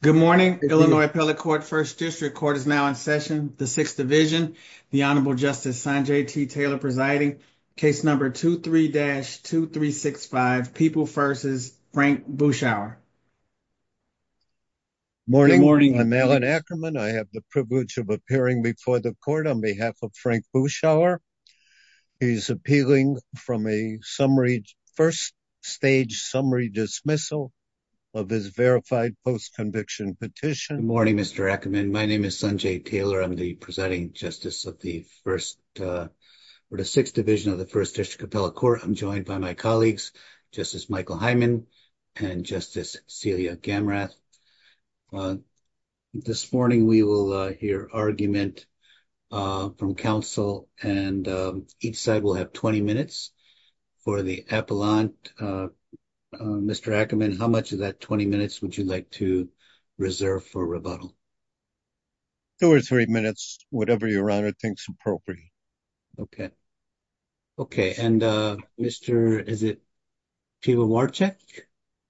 Good morning. Illinois Appellate Court First District Court is now in session. The Sixth Division. The Honorable Justice Sanjay T. Taylor presiding. Case number 23-2365, People v. Frank Buschauer. Morning. I'm Alan Ackerman. I have the privilege of appearing before the Court on behalf of Frank Buschauer. He's appealing from a first stage summary dismissal of his verified post-conviction petition. Good morning, Mr. Ackerman. My name is Sanjay Taylor. I'm the presiding justice of the Sixth Division of the First District Appellate Court. I'm joined by my colleagues, Justice Michael Hyman and Justice Celia Gamrath. This morning we will hear argument from counsel and each side will have 20 minutes for the appellant. Mr. Ackerman, how much of that 20 minutes would you like to reserve for rebuttal? Two or three minutes. Whatever your honor thinks appropriate. Okay. Okay. And, uh, Mr. Is it People v. Varchek?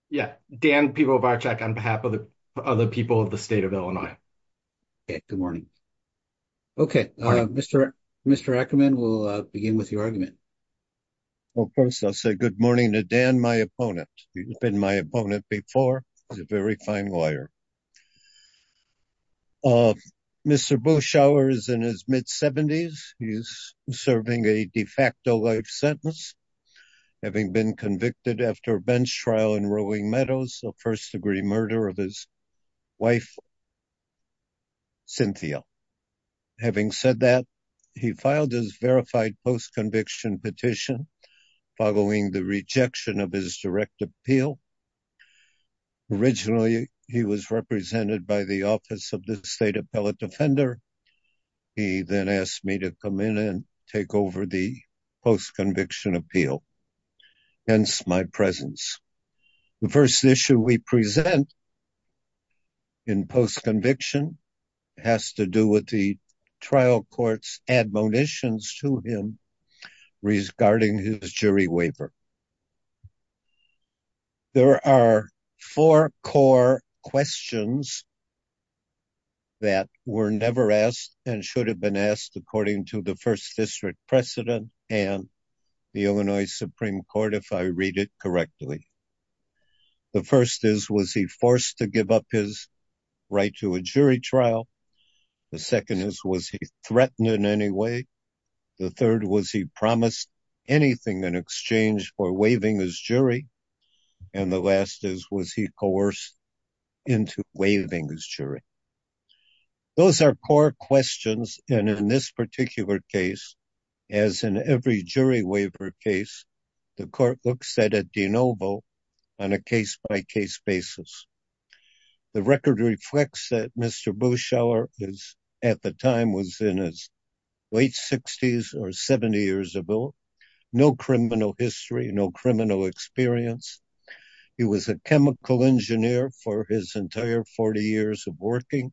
Yeah. Dan People v. Varchek on behalf of the other people of the state of Illinois. Okay. Good morning. Okay. Mr. Ackerman, we'll begin with your argument. Well, first I'll say good morning to Dan, my opponent. He's been my opponent before. He's a very fine lawyer. Mr. Buschauer is in his mid-70s. He's serving a de facto life sentence, having been convicted after a bench trial in Rowing Meadows of first degree murder of his wife, Cynthia. Having said that, he filed his verified post-conviction petition following the rejection of his direct appeal. Originally, he was represented by the office of the state appellate defender. He then asked me to come in and take over the post-conviction appeal. Hence my presence. The first issue we present in post-conviction has to do with the trial court's admonitions to him regarding his jury waiver. There are four core questions that were never asked and should have been asked according to the first district precedent and the Illinois Supreme Court, if I read it correctly. The first is, was he forced to give up his right to a jury trial? The second is, was he threatened in any way? The third was, he promised anything in exchange for waiving his jury? And the last is, was he coerced into waiving his jury? Those are core questions. And in this particular case, as in every jury waiver case, the court looks at a de novo on a case-by-case basis. The record reflects that Mr. Buschauer at the time was in his late 60s or 70 years ago. No criminal history, no criminal experience. He was a chemical engineer for his entire 40 years of working.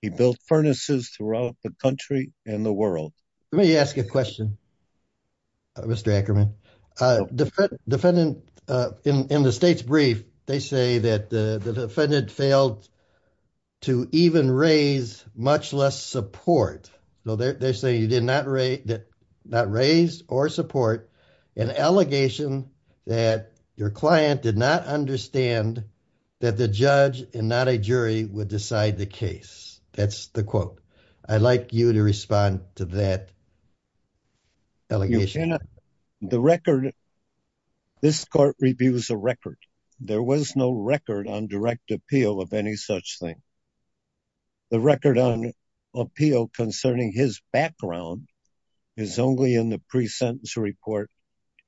He built furnaces throughout the country and the world. Let me ask you a question, Mr. Ackerman. Defendant, in the state's brief, they say that the defendant failed to even raise much less support. So they say you did not raise or support an allegation that your client did not understand that the judge and not a jury would decide the case. That's the quote. I'd like you to respond to that allegation. The record, this court reviews a record. There was no record on direct appeal of any such thing. The record on appeal concerning his background is only in the pre-sentence report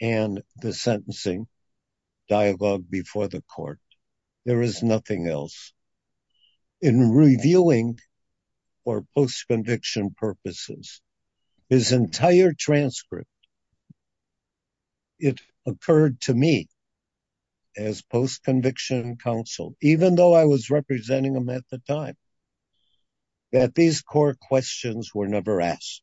and the sentencing. Dialogue before the court. There is nothing else. In reviewing for post-conviction purposes, his entire transcript, it occurred to me as post-conviction counsel, even though I was representing him at the time, that these core questions were never asked.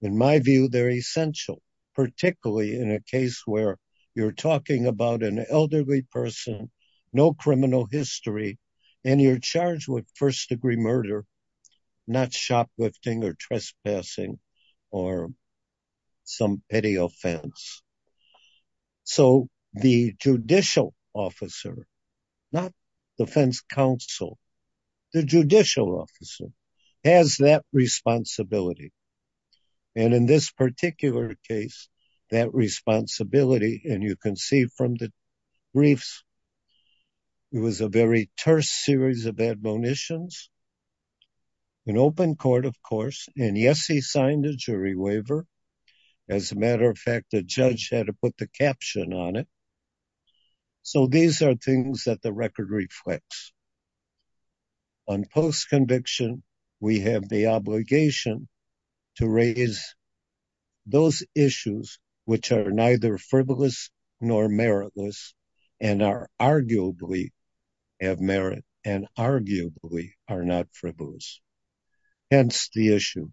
In my view, they're essential, particularly in a case where you're talking about an elderly person, no criminal history, and you're charged with first-degree murder, not shoplifting or trespassing or some petty offense. The judicial officer, not defense counsel, the judicial officer has that responsibility. And in this particular case, that responsibility, and you can see from the briefs, it was a very terse series of admonitions. An open court, of course, and yes, he signed a jury waiver. As a matter of fact, the judge had to put the caption on it. So these are things that the record reflects. On post-conviction, we have the obligation to raise those issues which are neither frivolous nor meritless and are arguably of merit and arguably are not frivolous. Hence the issue.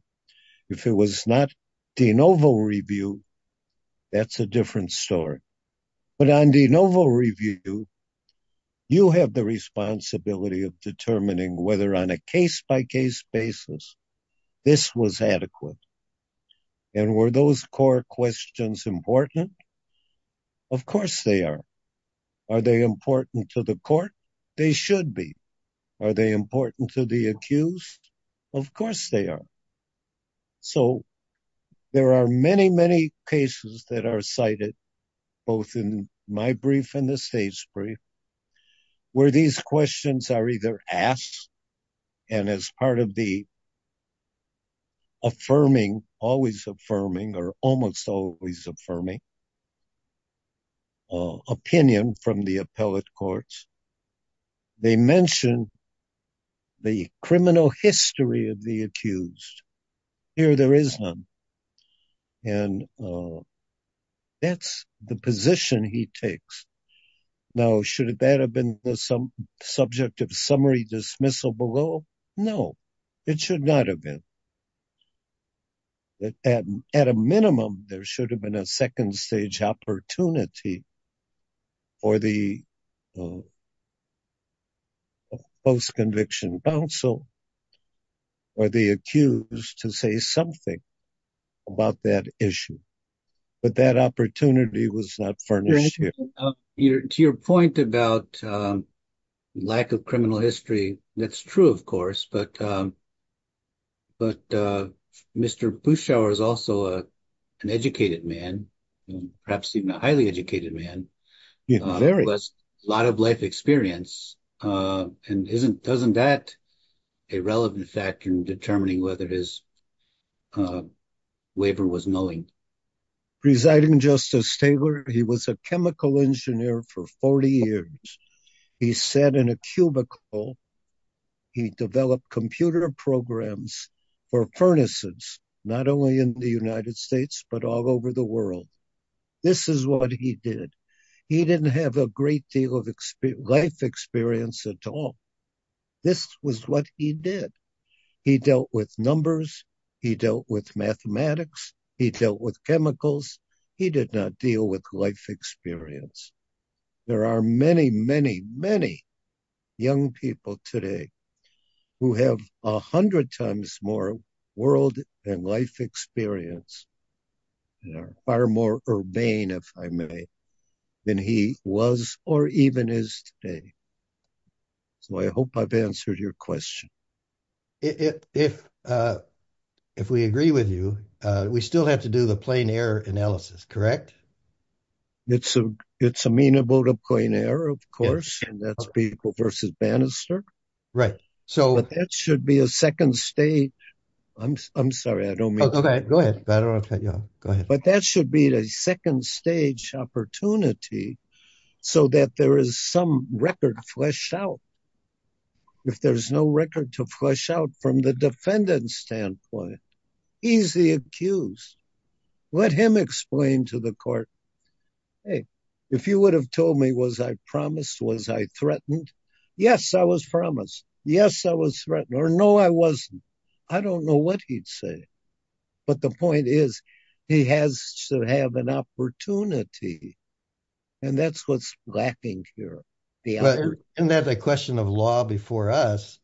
If it was not de novo review, that's a different story. But on de novo review, you have the responsibility of determining whether on a case-by-case basis, this was adequate. And were those core questions important? Of course they are. Are they important to the court? They should be. Are they important to the accused? Of course they are. So there are many, many cases that are cited, both in my brief and the state's brief, where these questions are either asked and as part of the affirming, always affirming, or almost always affirming opinion from the appellate courts, they mention the criminal history of the accused. Here there is none. And that's the position he takes. Now, should that have been the subject of summary dismissal below? No, it should not have been. At a minimum, there should have been a second stage opportunity for the post-conviction counsel or the accused to say something about that issue. But that opportunity was not furnished here. Peter, to your point about lack of criminal history, that's true, of course, but Mr. Buschauer is also an educated man, perhaps even a highly educated man. He has a lot of life experience. And isn't that a relevant factor in determining whether his waiver was knowing? Presiding Justice Taylor, he was a chemical engineer for 40 years. He sat in a cubicle. He developed computer programs for furnaces, not only in the United This is what he did. He didn't have a great deal of life experience at all. This was what he did. He dealt with numbers. He dealt with mathematics. He dealt with chemicals. He did not deal with life experience. There are many, many, many young people today who have a hundred times more world and life experience and are far more urbane, if I may, than he was or even is today. So, I hope I've answered your question. If we agree with you, we still have to do the plain error analysis, correct? It's amenable to plain error, of course, and that's people versus banister. So, that should be a second stage. I'm sorry, I don't mean to. But that should be the second stage opportunity so that there is some record fleshed out. If there's no record to flesh out from the defendant's standpoint, he's the accused. Let him explain to the court, hey, if you would have told me, was I promised? Was I threatened? Yes, I was promised. Yes, I was threatened. Or no, I wasn't. I don't know what he'd say. But the point is, he has to have an opportunity, and that's what's lacking here. And that the question of law before us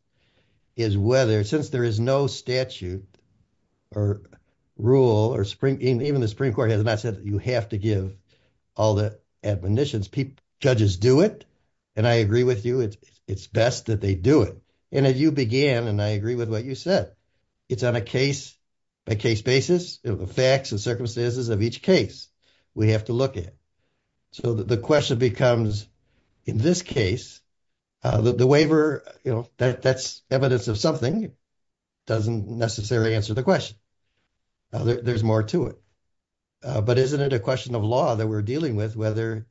is whether, since there is no statute or rule, or even the Supreme Court has not said that you have to give all the admonitions. Judges do it, and I agree with you. It's best that they do it. And as you began, and I agree with what you said, it's on a case-by-case basis of the facts and circumstances of each case we have to look at. So the question becomes, in this case, the waiver, you know, that's evidence of something. It doesn't necessarily answer the question. There's more to it. But isn't it a question of law that we're dealing with whether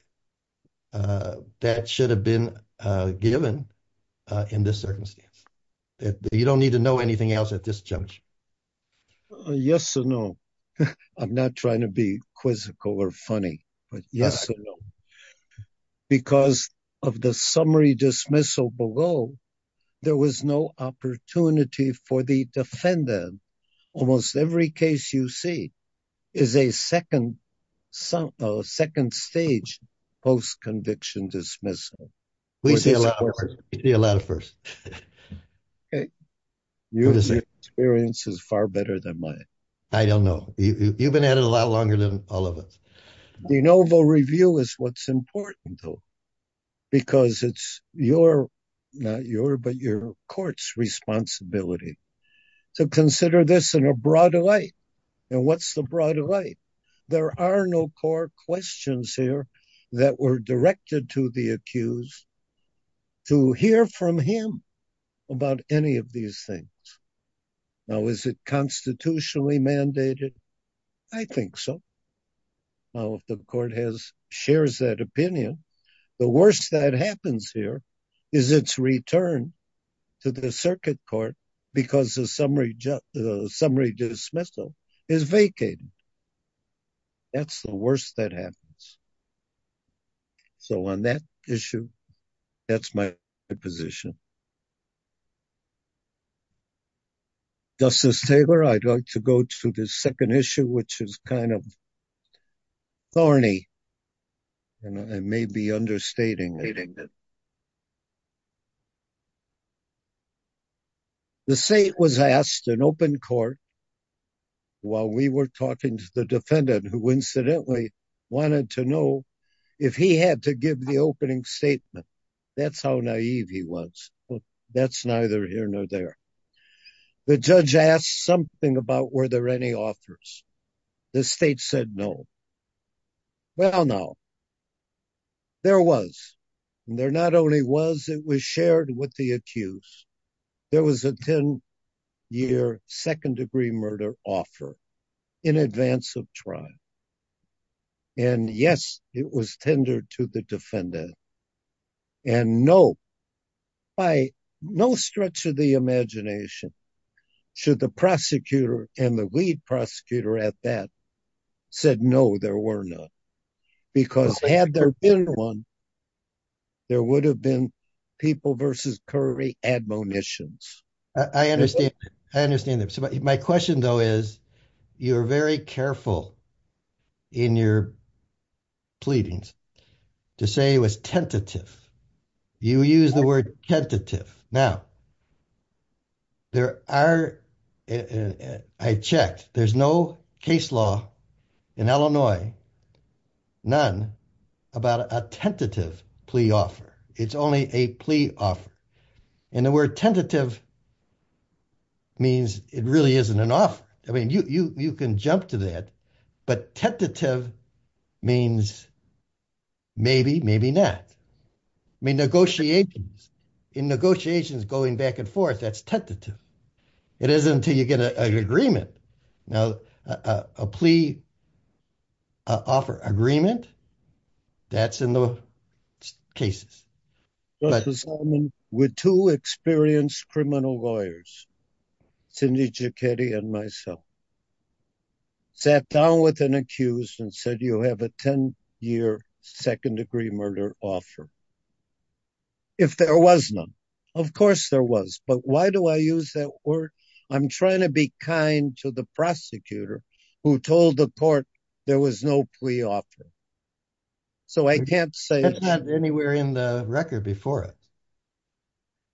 that should have been given in this circumstance? You don't need to know anything else at this juncture. Yes or no. I'm not trying to be quizzical or funny, but yes or no. Because of the summary dismissal below, there was no opportunity for the defendant. Almost every case you see is a second stage post-conviction dismissal. We see a lot of firsts. Okay. Your experience is far better than mine. I don't know. You've been at it a lot longer than all of us. The novel review is what's important, though, because it's your, not your, but your court's responsibility to consider this in a broader light. And what's the broader light? There are no core questions here that were directed to the accused to hear from him about any of these things. Now, is it constitutionally mandated? I think so. Now, if the court shares that opinion, the worst that happens here is its return to the circuit court because the summary dismissal is vacated. That's the worst that happens. So, on that issue, that's my position. Justice Taylor, I'd like to go to the second issue, which is kind of thorny, you know, and maybe understating. The state was asked in open court, while we were talking to the defendant, who incidentally wanted to know if he had to give the opening statement. That's how naive he was. Well, that's neither here nor there. The judge asked something about were there any offers. The state said no. Well, now, there was. And there not only was, it was shared with the accused. There was a 10-year second-degree murder offer in advance of trial. And yes, it was tendered to the defendant. And no, by no stretch of the imagination, should the prosecutor and the lead prosecutor at that said no, there were not. Because had there been one, there would have been people versus curry admonitions. I understand. I understand that. So, my question, though, is you're very careful in your pleadings to say it was tentative. You use the word tentative. Now, there are, I checked, there's no case law in Illinois, none, about a tentative plea offer. It's only a plea offer. And the word tentative means it really isn't an offer. I mean, you can jump to that. But tentative means maybe, maybe not. I mean, negotiations, in negotiations going back and forth, that's tentative. It isn't until you get an agreement. Now, a plea offer agreement, that's in the cases. With two experienced criminal lawyers, Cindy Giacchetti and myself, sat down with an accused and said, you have a 10-year second-degree murder offer. If there was none, of course there was. But why do I use that word? I'm trying to be kind to the prosecutor who told the court there was no plea offer. So, I can't say. That's not anywhere in the record before it.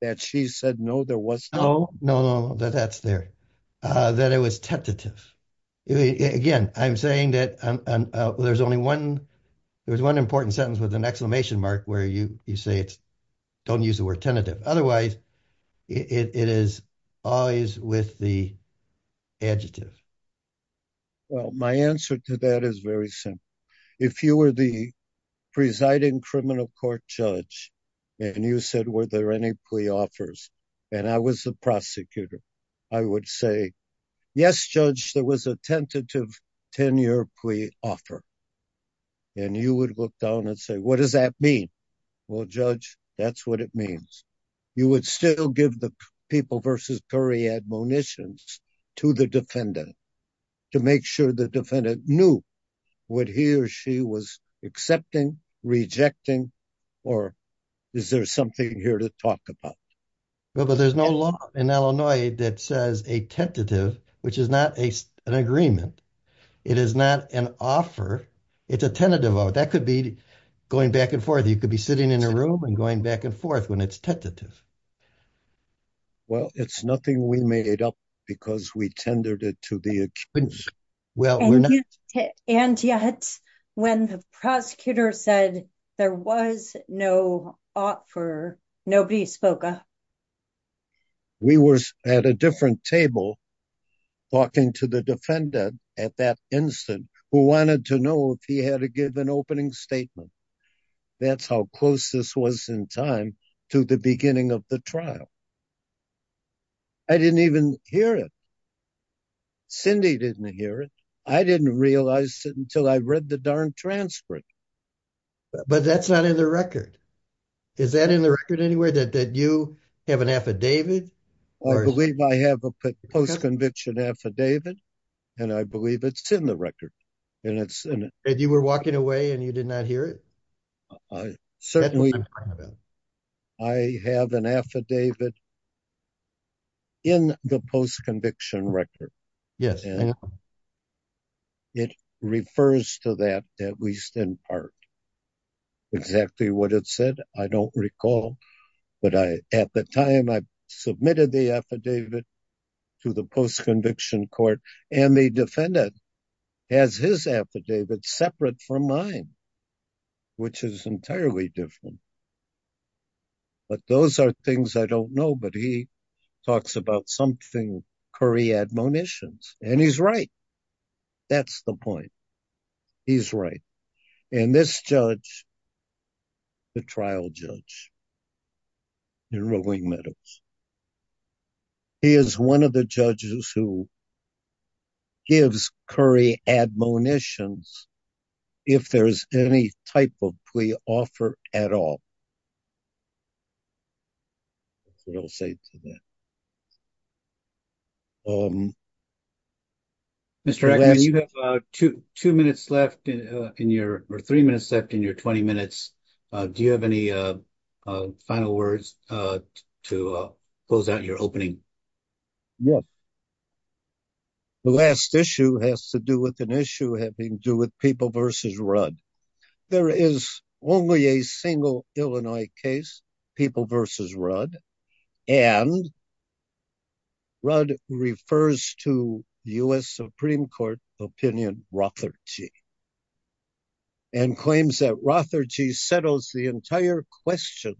That she said no, there was no. No, no, no, that's there. That it was tentative. Again, I'm saying that there's only one important sentence with an exclamation mark where you say it's, don't use the word tentative. Otherwise, it is always with the adjective. Well, my answer to that is very simple. If you were the presiding criminal court judge and you said, were there any plea offers? And I was the prosecutor, I would say, yes, judge, there was a tentative 10-year plea offer. And you would look down and say, what does that mean? Well, judge, that's what it means. You would still give the people versus period munitions to the defendant to make sure the defendant knew what he or she was accepting, rejecting, or is there something here to talk about? Well, but there's no law in Illinois that says a tentative, which is not an agreement. It is not an offer. It's a tentative. That could be going back and forth. You could be sitting in a room and going back and forth when it's tentative. Well, it's nothing we made up because we tendered it to the accused. And yet, when the prosecutor said there was no offer, nobody spoke up. We were at a different table talking to the defendant at that instant who wanted to know if he had to give an opening statement. That's how close this was in time to the beginning of the trial. I didn't even hear it. Cindy didn't hear it. I didn't realize it until I read the darn transcript. But that's not in the record. Is that in the record anywhere that you have an affidavit? I believe I have a post-conviction affidavit. And I believe it's in the record. And you were walking away and you did not hear it? I have an affidavit in the post-conviction record. It refers to that, at least in part. Exactly what it said, I don't recall. But at the time, I submitted the affidavit to the post-conviction court. And the defendant has his affidavit separate from mine. Which is entirely different. But those are things I don't know. But he talks about something, curry admonitions. And he's right. That's the point. He's right. And this judge, the trial judge in Rolling Meadows, he is one of the judges who gives curry admonitions if there's any type of plea offer at all. That's what I'll say to that. Mr. Agnew, you have two minutes left in your, or three minutes left in your 20 minutes. Do you have any final words to close out your opening? Yes. The last issue has to do with an issue having to do with People v. Rudd. There is only a single Illinois case, People v. Rudd. And Rudd refers to the U.S. Supreme Court opinion, Rotherty. And claims that Rotherty settles the entire question,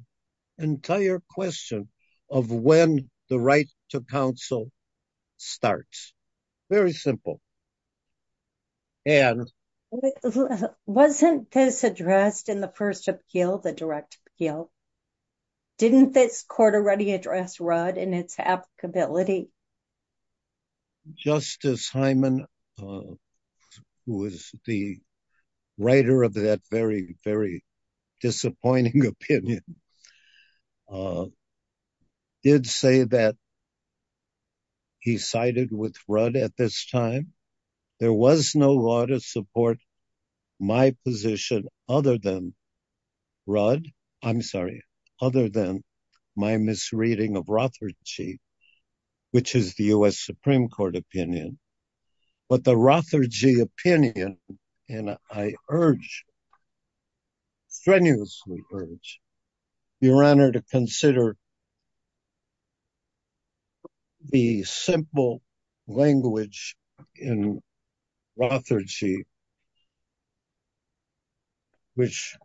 entire question of when the right to counsel starts. Very simple. Wasn't this addressed in the first appeal, the direct appeal? Didn't this court already address Rudd and its applicability? Well, Justice Hyman, who is the writer of that very, very disappointing opinion, did say that he sided with Rudd at this time. There was no law to support my position other than Rudd, I'm sorry, other than my misreading of Rotherty, which is the U.S. Supreme Court opinion. But the Rotherty opinion, and I urge, strenuously urge, your honor to consider the simple language in Rotherty which,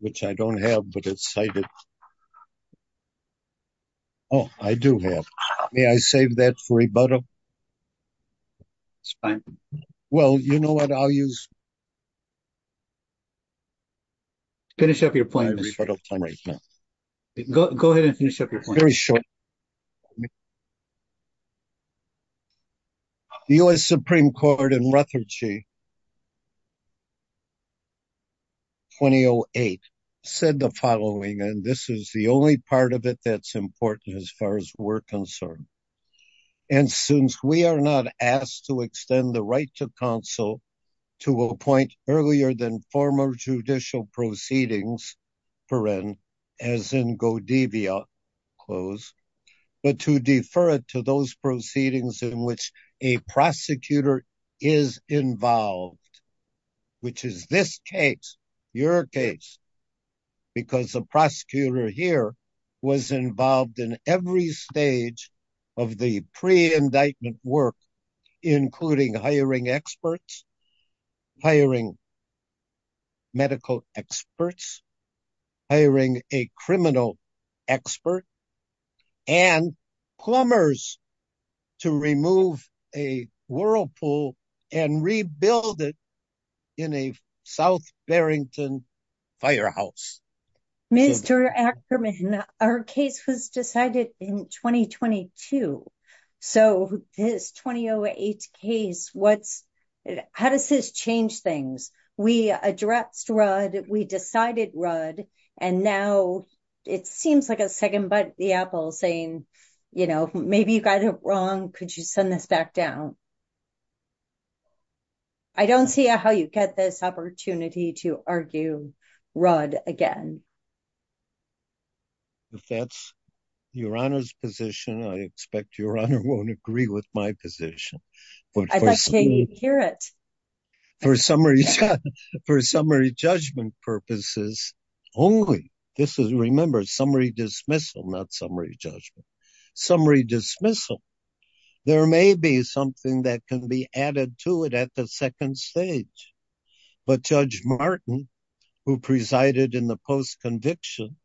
which I don't have, but it's cited. Oh, I do have. May I save that for rebuttal? It's fine. Well, you know what I'll use? Finish up your point. Go ahead and finish up your point. Very short. The U.S. Supreme Court in Rotherty 2008 said the following, and this is the only part of it that's important as far as we're concerned. And since we are not asked to extend the right to counsel to appoint earlier than former judicial proceedings, as in Godevia clause, but to defer it to those proceedings in which a prosecutor is involved, which is this case, your case, because the prosecutor here was involved in every stage of the pre-indictment work, including hiring experts, hiring medical experts, hiring a criminal expert, and plumbers to remove a whirlpool and rebuild it in a South Barrington firehouse. Mr. Ackerman, our case was decided in 2022. So this 2008 case, how does this change things? We addressed Rudd, we decided Rudd, and now it seems like a second bite at the apple saying, you know, maybe you got it wrong. Could you send this back down? I don't see how you get this opportunity to argue Rudd again. If that's your Honor's position, I expect your Honor won't agree with my position. I'd like to hear it. For summary judgment purposes only. This is, remember, summary dismissal, not summary judgment. Summary dismissal. There may be something that can be added to it at the second stage. But Judge Martin, who presided in the post-conviction,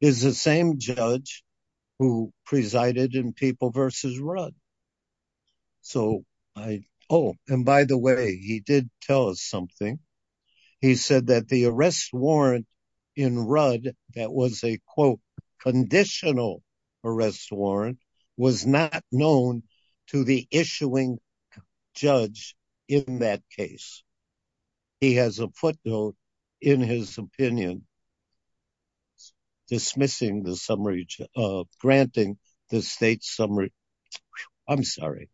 is the same judge who presided in People v. Rudd. And by the way, he did tell us something. He said that the arrest warrant in Rudd that was a, quote, conditional arrest warrant, was not known to the issuing judge in that case. He has a footnote in his opinion dismissing the summary, granting the state summary, I'm sorry,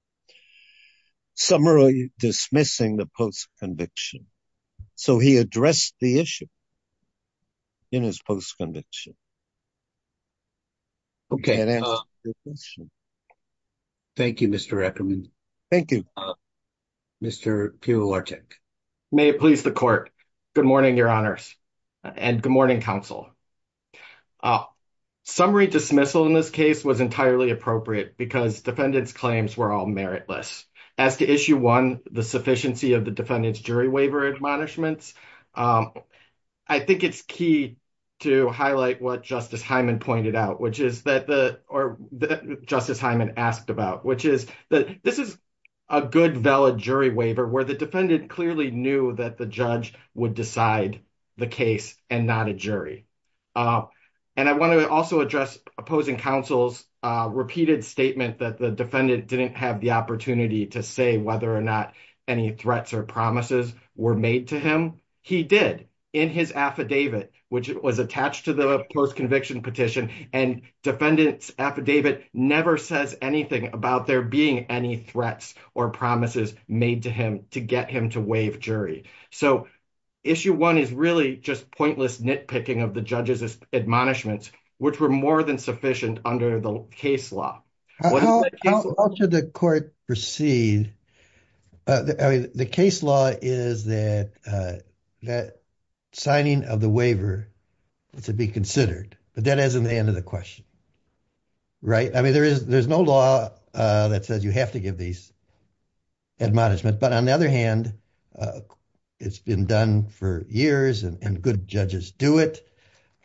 summary dismissing the post-conviction. So he addressed the issue in his post-conviction. Okay. Thank you, Mr. Eckerman. Thank you. Mr. Piotrczyk. May it please the court. Good morning, Your Honors. And good morning, counsel. Summary dismissal in this case was entirely appropriate because defendants' claims were all meritless. As to issue one, the sufficiency of the defendant's jury waiver admonishments, I think it's key to highlight what Justice Hyman pointed out, which is that the, or that Justice Hyman asked about, which is that this is a good valid jury waiver where the defendant clearly knew that the judge would decide the case and not a jury. And I want to also address opposing counsel's repeated statement that the defendant didn't have the opportunity to say whether or not any threats or promises were made to him. He did in his affidavit, which was attached to the post-conviction petition and defendant's affidavit never says anything about there being any threats or promises made to him to get him to waive jury. So issue one is really just pointless nitpicking of the judge's admonishments, which were more than sufficient under the case law. How should the court proceed? The case law is that signing of the waiver to be considered. But that isn't the end of the question. Right? I mean, there is, there's no law that says you have to give these admonishments, but on the other hand, it's been done for years and good judges do it.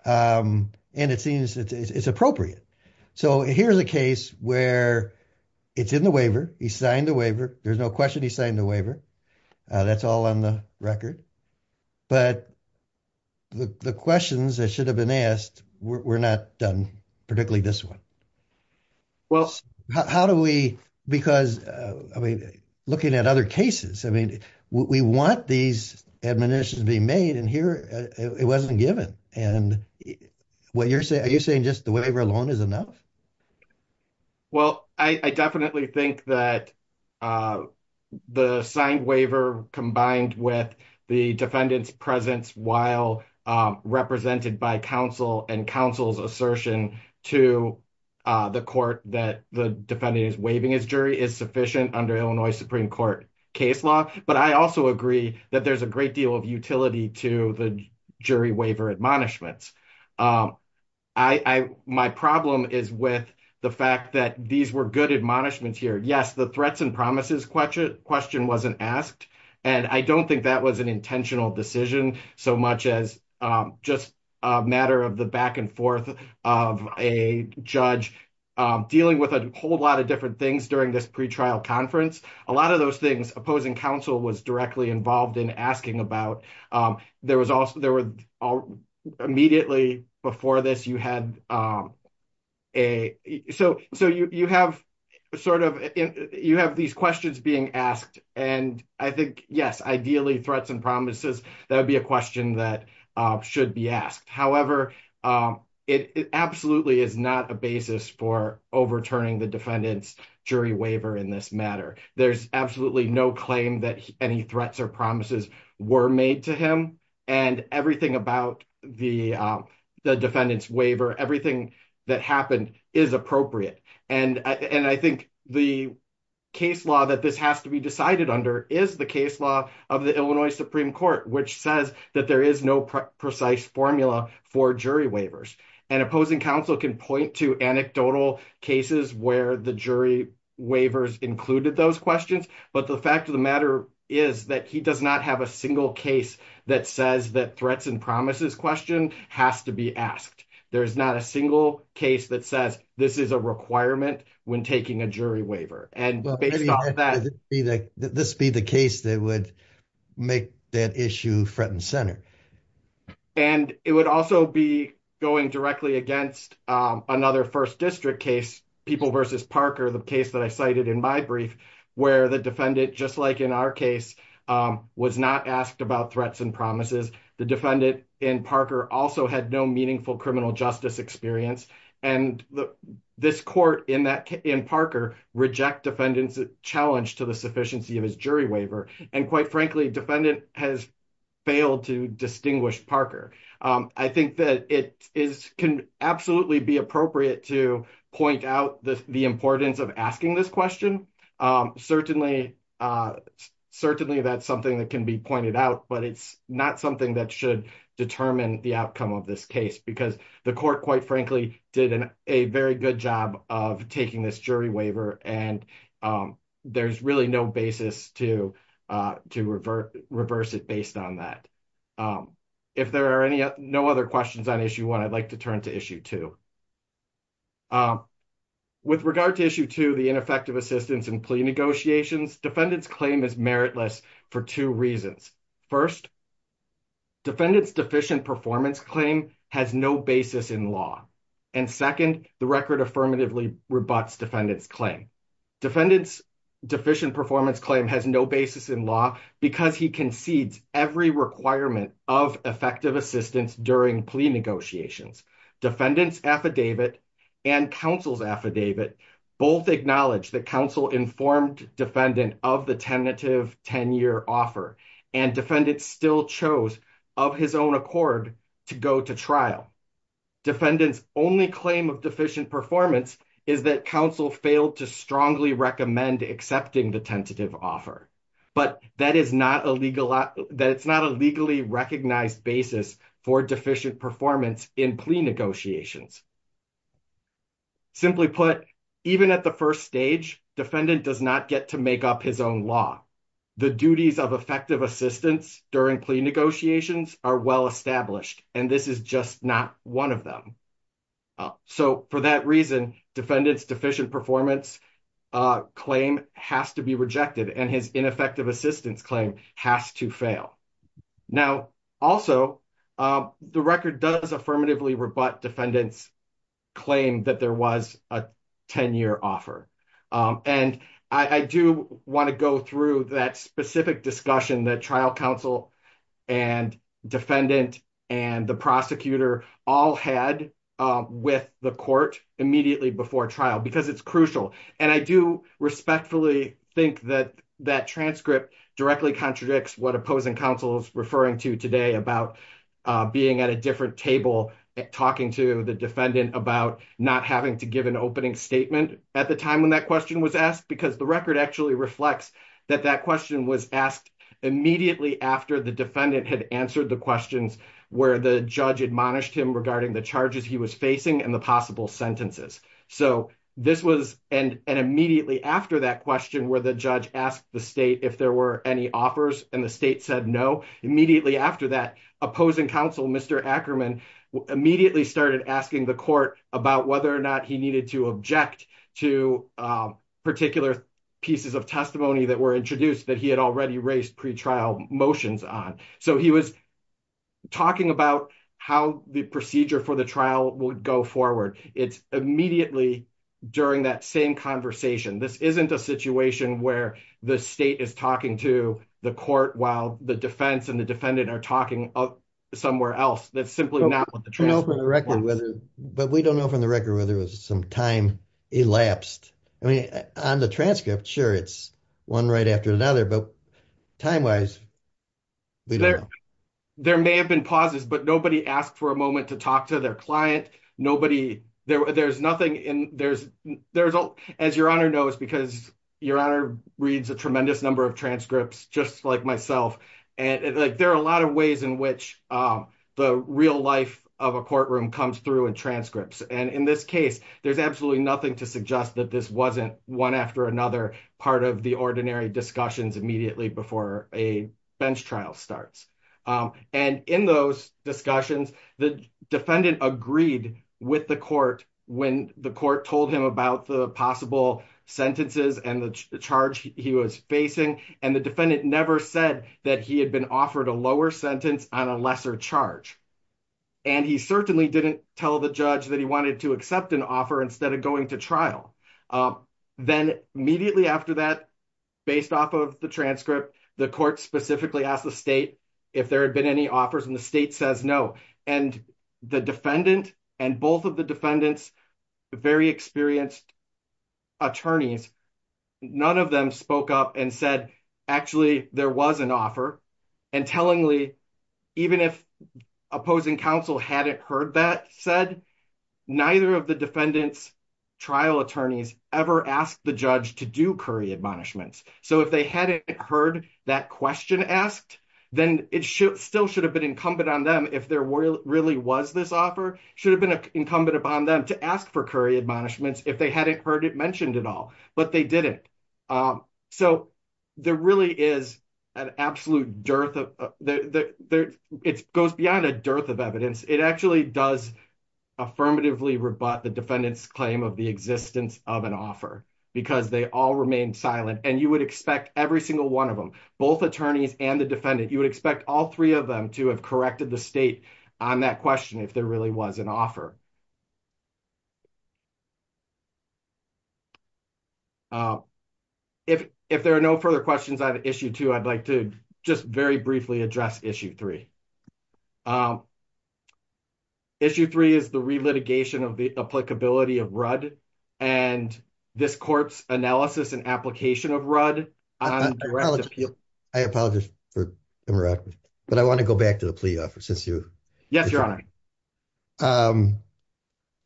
And it seems it's appropriate. So here's a case where it's in the waiver. He signed the waiver. There's no question he signed the waiver. That's all on the record. But the questions that should have been asked were not done, particularly this one. Well, how do we, because I mean, looking at other cases, I mean, we want these admonitions being made and here it wasn't given. And what you're saying, are you saying just the waiver alone is enough? Well, I definitely think that the signed waiver combined with the defendant's presence while represented by counsel and counsel's assertion to the court that the defendant is waiving his jury is sufficient under Illinois Supreme Court case law. But I also agree that there's a great deal of utility to the jury waiver admonishments. My problem is with the fact that these were good admonishments here. Yes, the threats and promises question wasn't asked. And I don't think that was an intentional decision so much as just a matter of the back and forth of a judge dealing with a whole lot of different things during this pre-trial conference. A lot of those things opposing counsel was directly involved in asking about. There was also, there were immediately before this, you had a, so you have sort of, you have these questions being asked. And I think, yes, ideally threats and promises, that would be a question that should be asked. However, it absolutely is not a basis for overturning the defendant's jury waiver in this matter. There's absolutely no claim that any threats or promises were made to him and everything about the defendant's waiver, everything that happened is appropriate. And I think the case law that this has to be decided under is the case law of the Illinois Supreme Court, which says that there is no precise formula for jury waivers. And opposing counsel can point to anecdotal cases where the jury waivers included those questions. But the fact of the matter is that he does not have a single case that says that threats and promises question has to be asked. There's not a single case that says this is a requirement when taking a jury waiver. And based on that, this be the case that would make that issue front and center. And it would also be going directly against another first district case, People v. Parker, the case that I cited in my brief, where the defendant, just like in our case, was not asked about threats and promises. The defendant in Parker also had no meaningful criminal justice experience. And this court in Parker reject defendant's challenge to the sufficiency of his jury waiver. And quite frankly, defendant has failed to distinguish Parker. I think that it can absolutely be appropriate to point out the importance of asking this certainly. Certainly, that's something that can be pointed out. But it's not something that should determine the outcome of this case. Because the court, quite frankly, did a very good job of taking this jury waiver. And there's really no basis to reverse it based on that. If there are no other questions on issue one, I'd like to turn to issue two. With regard to issue two, the ineffective assistance and plea negotiations, defendant's claim is meritless for two reasons. First, defendant's deficient performance claim has no basis in law. And second, the record affirmatively rebuts defendant's claim. Defendant's deficient performance claim has no basis in law because he concedes every requirement of effective assistance during plea negotiations. Defendant's affidavit and counsel's affidavit both acknowledge that counsel informed defendant of the tentative 10-year offer. And defendant still chose, of his own accord, to go to trial. Defendant's only claim of deficient performance is that counsel failed to strongly recommend accepting the tentative offer. But that is not a legally recognized basis for deficient performance in plea negotiations. Simply put, even at the first stage, defendant does not get to make up his own law. The duties of effective assistance during plea negotiations are well established. And this is just not one of them. So for that reason, defendant's deficient performance claim has to be rejected. And his ineffective assistance claim has to fail. Now, also, the record does affirmatively rebut defendant's claim that there was a 10-year offer. And I do want to go through that specific discussion that trial counsel and defendant and the prosecutor all had with the court immediately before trial because it's crucial. And I do respectfully think that that transcript directly contradicts what opposing counsel is referring to today about being at a different table, talking to the defendant about not having to give an opening statement at the time when that question was asked. Because the record actually reflects that that question was asked immediately after the defendant had answered the questions where the judge admonished him regarding the charges he was facing and the possible sentences. So this was immediately after that question where the judge asked the state if there were any offers, and the state said no. Immediately after that, opposing counsel, Mr. Ackerman, immediately started asking the court about whether or not he needed to object to particular pieces of testimony that were introduced that he had already raised pretrial motions on. So he was talking about how the procedure for the trial would go forward. It's immediately during that same conversation. This isn't a situation where the state is talking to the court while the defense and the defendant are talking somewhere else. That's simply not what the transcript was. But we don't know from the record whether there was some time elapsed. I mean, on the transcript, sure, it's one right after another. But time-wise, we don't know. There may have been pauses, but nobody asked for a moment to talk to their client. Nobody, there's nothing in, there's, as Your Honor knows, because Your Honor reads a tremendous number of transcripts, just like myself, and there are a lot of ways in which the real life of a courtroom comes through in transcripts. And in this case, there's absolutely nothing to suggest that this wasn't one after another part of the ordinary discussions immediately before a bench trial starts. And in those discussions, the defendant agreed with the court when the court told him about the possible sentences and the charge he was facing. And the defendant never said that he had been offered a lower sentence on a lesser charge. And he certainly didn't tell the judge that he wanted to accept an offer instead of going to trial. Then immediately after that, based off of the transcript, the court specifically asked if there had been any offers, and the state says no. And the defendant and both of the defendant's very experienced attorneys, none of them spoke up and said, actually, there was an offer. And tellingly, even if opposing counsel hadn't heard that said, neither of the defendant's trial attorneys ever asked the judge to do curry admonishments. So if they hadn't heard that question asked, then it still should have been incumbent on them if there really was this offer, should have been incumbent upon them to ask for curry admonishments if they hadn't heard it mentioned at all. But they didn't. So there really is an absolute dearth of, it goes beyond a dearth of evidence. It actually does affirmatively rebut the defendant's claim of the existence of an offer, because they all remained silent. And you would expect every single one of them, both attorneys and the defendant, you would expect all three of them to have corrected the state on that question if there really was an offer. If there are no further questions on issue two, I'd like to just very briefly address issue three. Issue three is the re-litigation of the applicability of RUD, and this court's analysis and application of RUD. I apologize for interrupting. But I want to go back to the plea offer since you. Yes, your honor.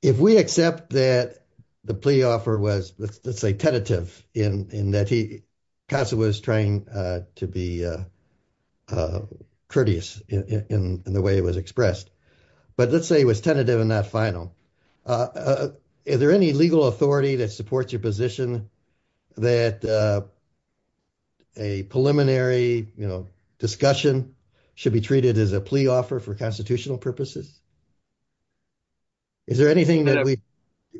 If we accept that the plea offer was, let's say, tentative in that Casa was trying to be courteous in the way it was expressed. But let's say it was tentative and not final. Is there any legal authority that supports your position that a preliminary discussion should be treated as a plea offer for constitutional purposes? Is there anything that we,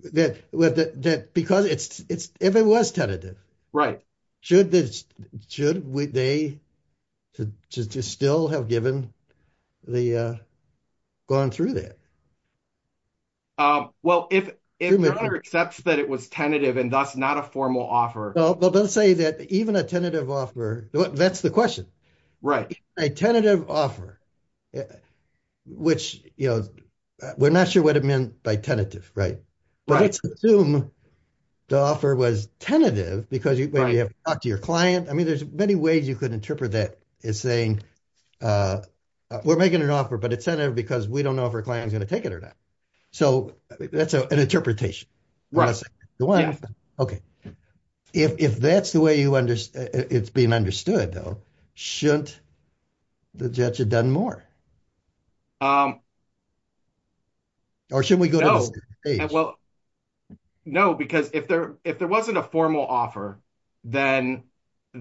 because if it was tentative. Right. Should they still have given the, gone through that? Well, if your honor accepts that it was tentative and thus not a formal offer. But let's say that even a tentative offer, that's the question. A tentative offer, which we're not sure what it meant by tentative, right? But let's assume the offer was tentative because you have to talk to your client. I mean, there's many ways you could interpret that as saying, we're making an offer, but it's tentative because we don't know if our client is going to take it or not. So that's an interpretation. Okay. If that's the way it's being understood, though, shouldn't the judge have done more? Or should we go to the same page? Well, no, because if there wasn't a formal offer, then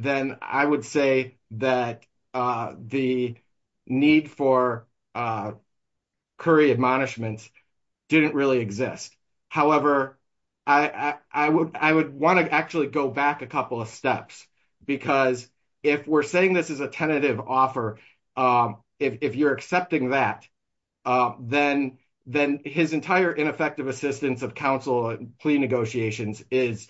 I would say that the need for a Curry admonishments didn't really exist. However, I would want to actually go back a couple of steps, because if we're saying this is a tentative offer, if you're accepting that, then his entire ineffective assistance of counsel and plea negotiations is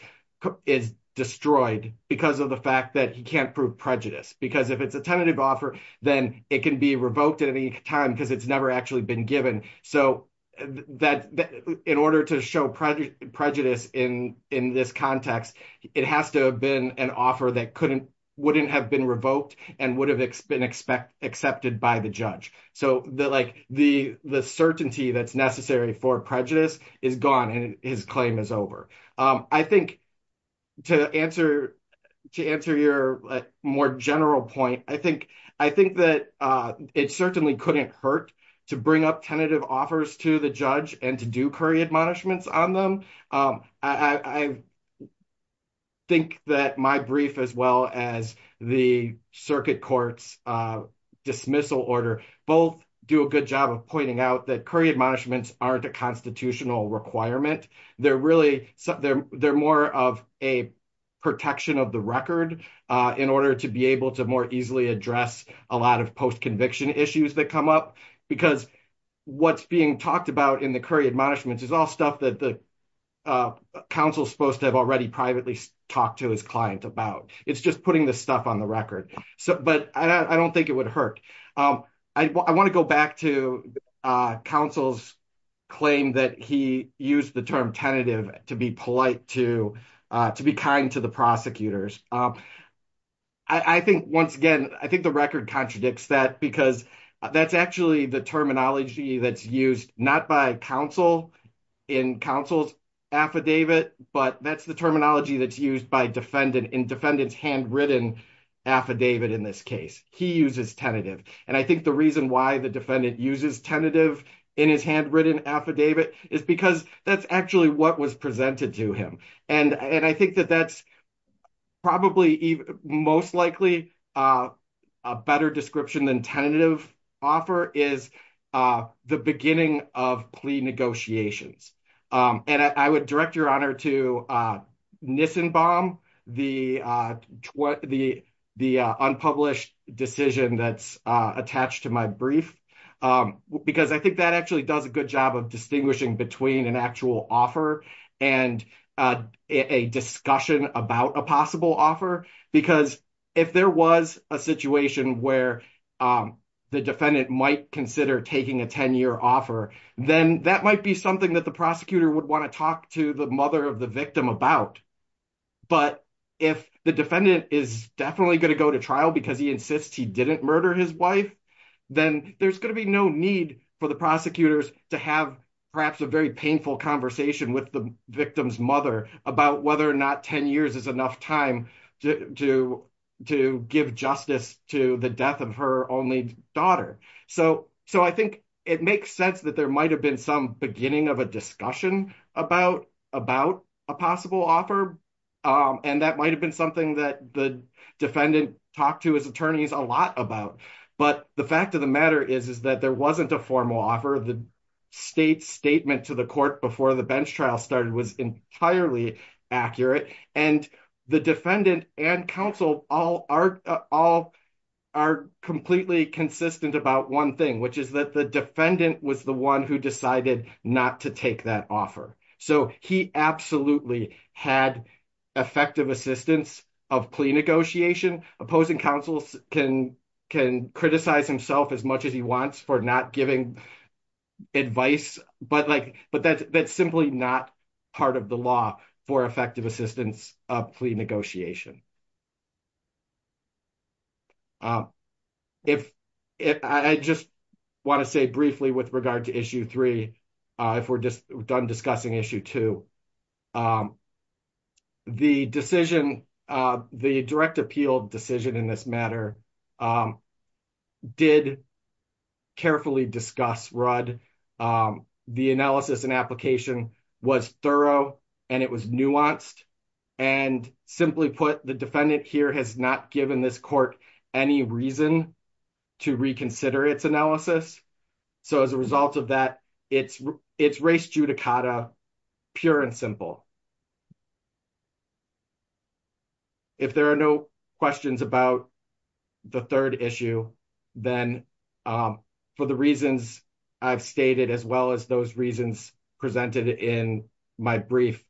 destroyed because of the fact that he can't prove prejudice. Because if it's a tentative offer, then it can be revoked at any time because it's never actually been given. So in order to show prejudice in this context, it has to have been an offer that wouldn't have been revoked and would have been accepted by the judge. So the certainty that's necessary for prejudice is gone and his claim is over. I think to answer your more general point, I think that it certainly couldn't hurt to bring up tentative offers to the judge and to do Curry admonishments on them. I think that my brief, as well as the circuit court's dismissal order, both do a good job of pointing out that Curry admonishments aren't a constitutional requirement. They're more of a protection of the record in order to be able to more easily address a lot of post-conviction issues that come up, because what's being talked about in the Curry admonishments is all stuff that the counsel's supposed to have already privately talked to his client about. It's just putting this stuff on the record. But I don't think it would hurt. I want to go back to counsel's claim that he used the term tentative to be polite, to be kind to the prosecutors. I think, once again, I think the record contradicts that because that's actually the terminology that's used not by counsel in counsel's affidavit, but that's the terminology that's used in defendant's handwritten affidavit in this case. He uses tentative. And I think the reason why the defendant uses tentative in his handwritten affidavit is because that's actually what was presented to him. And I think that that's probably most likely a better description than tentative offer is the beginning of plea negotiations. And I would direct your honor to Nissenbaum, the unpublished decision that's attached to my brief, because I think that actually does a good job of distinguishing between an actual offer and a discussion about a possible offer. Because if there was a situation where the defendant might consider taking a 10-year offer, then that might be something that the prosecutor would want to talk to the mother of the victim about. But if the defendant is definitely going to go to trial because he insists he didn't murder his wife, then there's going to be no need for the prosecutors to have perhaps a very painful conversation with the victim's mother about whether or not 10 years is enough time to give justice to the death of her only daughter. So I think it makes sense that there might have been some beginning of a discussion about a possible offer, and that might have been something that the defendant talked to his attorneys a lot about. But the fact of the matter is that there wasn't a formal offer. The state's statement to the court before the bench trial started was entirely accurate, and the defendant and counsel all are completely consistent about one thing, which is that the defendant was the one who decided not to take that offer. So he absolutely had effective assistance of plea negotiation. Opposing counsel can criticize himself as much as he wants for not giving advice, but that's simply not part of the law for effective assistance of plea negotiation. I just want to say briefly with regard to issue three, if we're just done discussing issue two, the decision, the direct appeal decision in this matter did carefully discuss Rudd. The analysis and application was thorough, and it was nuanced. And simply put, the defendant here has not given this court any reason to reconsider its analysis. So as a result of that, it's race judicata, pure and simple. If there are no questions about the third issue, then for the reasons I've stated, as well as those reasons presented in my brief,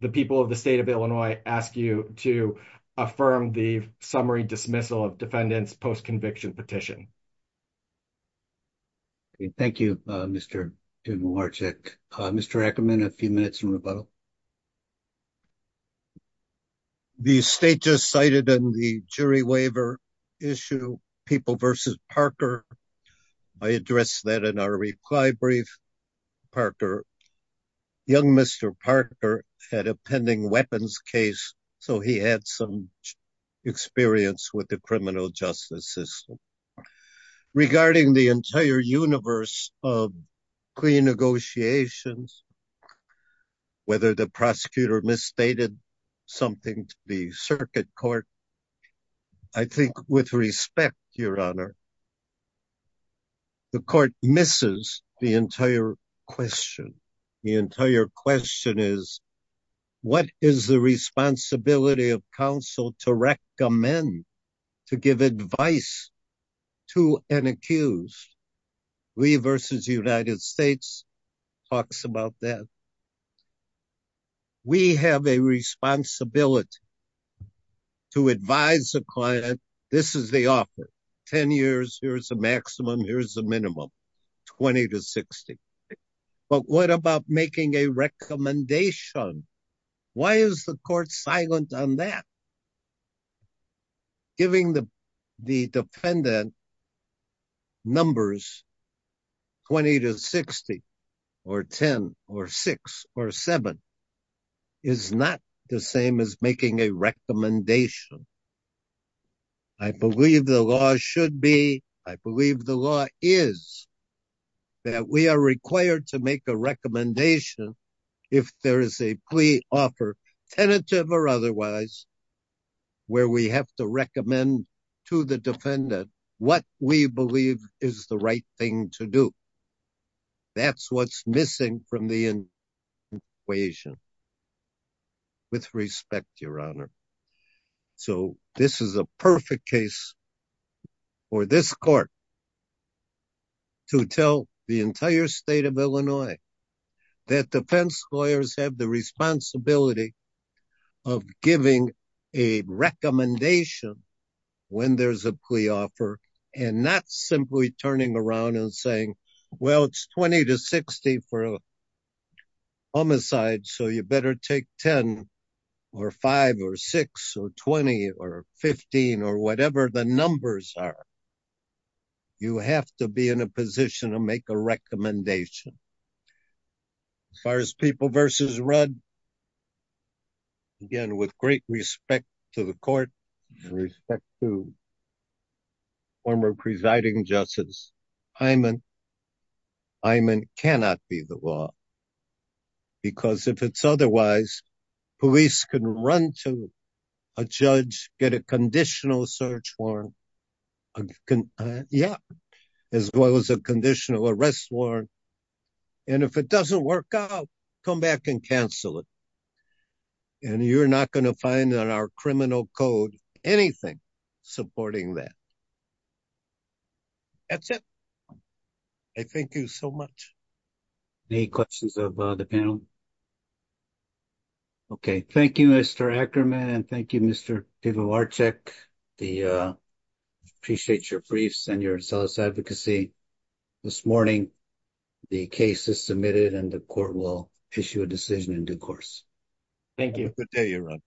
the people of the state of Illinois ask you to affirm the summary dismissal of defendants post-conviction petition. Thank you, Mr. Demilorcik. Mr. Ackerman, a few minutes in rebuttal. The state just cited in the jury waiver issue, People v. I addressed that in our reply brief. Young Mr. Parker had a pending weapons case, so he had some experience with the criminal justice system. Regarding the entire universe of clean negotiations, whether the prosecutor misstated something to the circuit court, I think with respect, Your Honor, the court misses the entire question. The entire question is, what is the responsibility of counsel to recommend, to give advice to an accused? We v. United States talks about that. We have a responsibility to advise the client, this is the offer, 10 years, here's the maximum, here's the minimum, 20 to 60. But what about making a recommendation? Why is the court silent on that? Well, giving the defendant numbers 20 to 60, or 10, or 6, or 7, is not the same as making a recommendation. I believe the law should be, I believe the law is, that we are required to make a recommendation if there is a plea offer, tentative or otherwise, where we have to recommend to the defendant what we believe is the right thing to do. That's what's missing from the equation. With respect, Your Honor, so this is a perfect case for this court to tell the entire state of Illinois that defense lawyers have the responsibility of giving a recommendation when there's a plea offer, and not simply turning around and saying, well, it's 20 to 60 for a homicide, so you better take 10, or 5, or 6, or 20, or 15, or whatever the numbers are. You have to be in a position to make a recommendation. As far as people versus Rudd, again, with great respect to the court, and respect to former presiding justice Hyman, Hyman cannot be the law. Because if it's otherwise, police can run to a judge, get a conditional search warrant, a, yeah, as well as a conditional arrest warrant. And if it doesn't work out, come back and cancel it. And you're not going to find in our criminal code anything supporting that. That's it. I thank you so much. Any questions of the panel? Okay, thank you, Mr. Ackerman. And thank you, Mr. Pivovarczyk. The, I appreciate your briefs and your zealous advocacy. This morning, the case is submitted, and the court will issue a decision in due course. Thank you. Have a good day, Your Honor.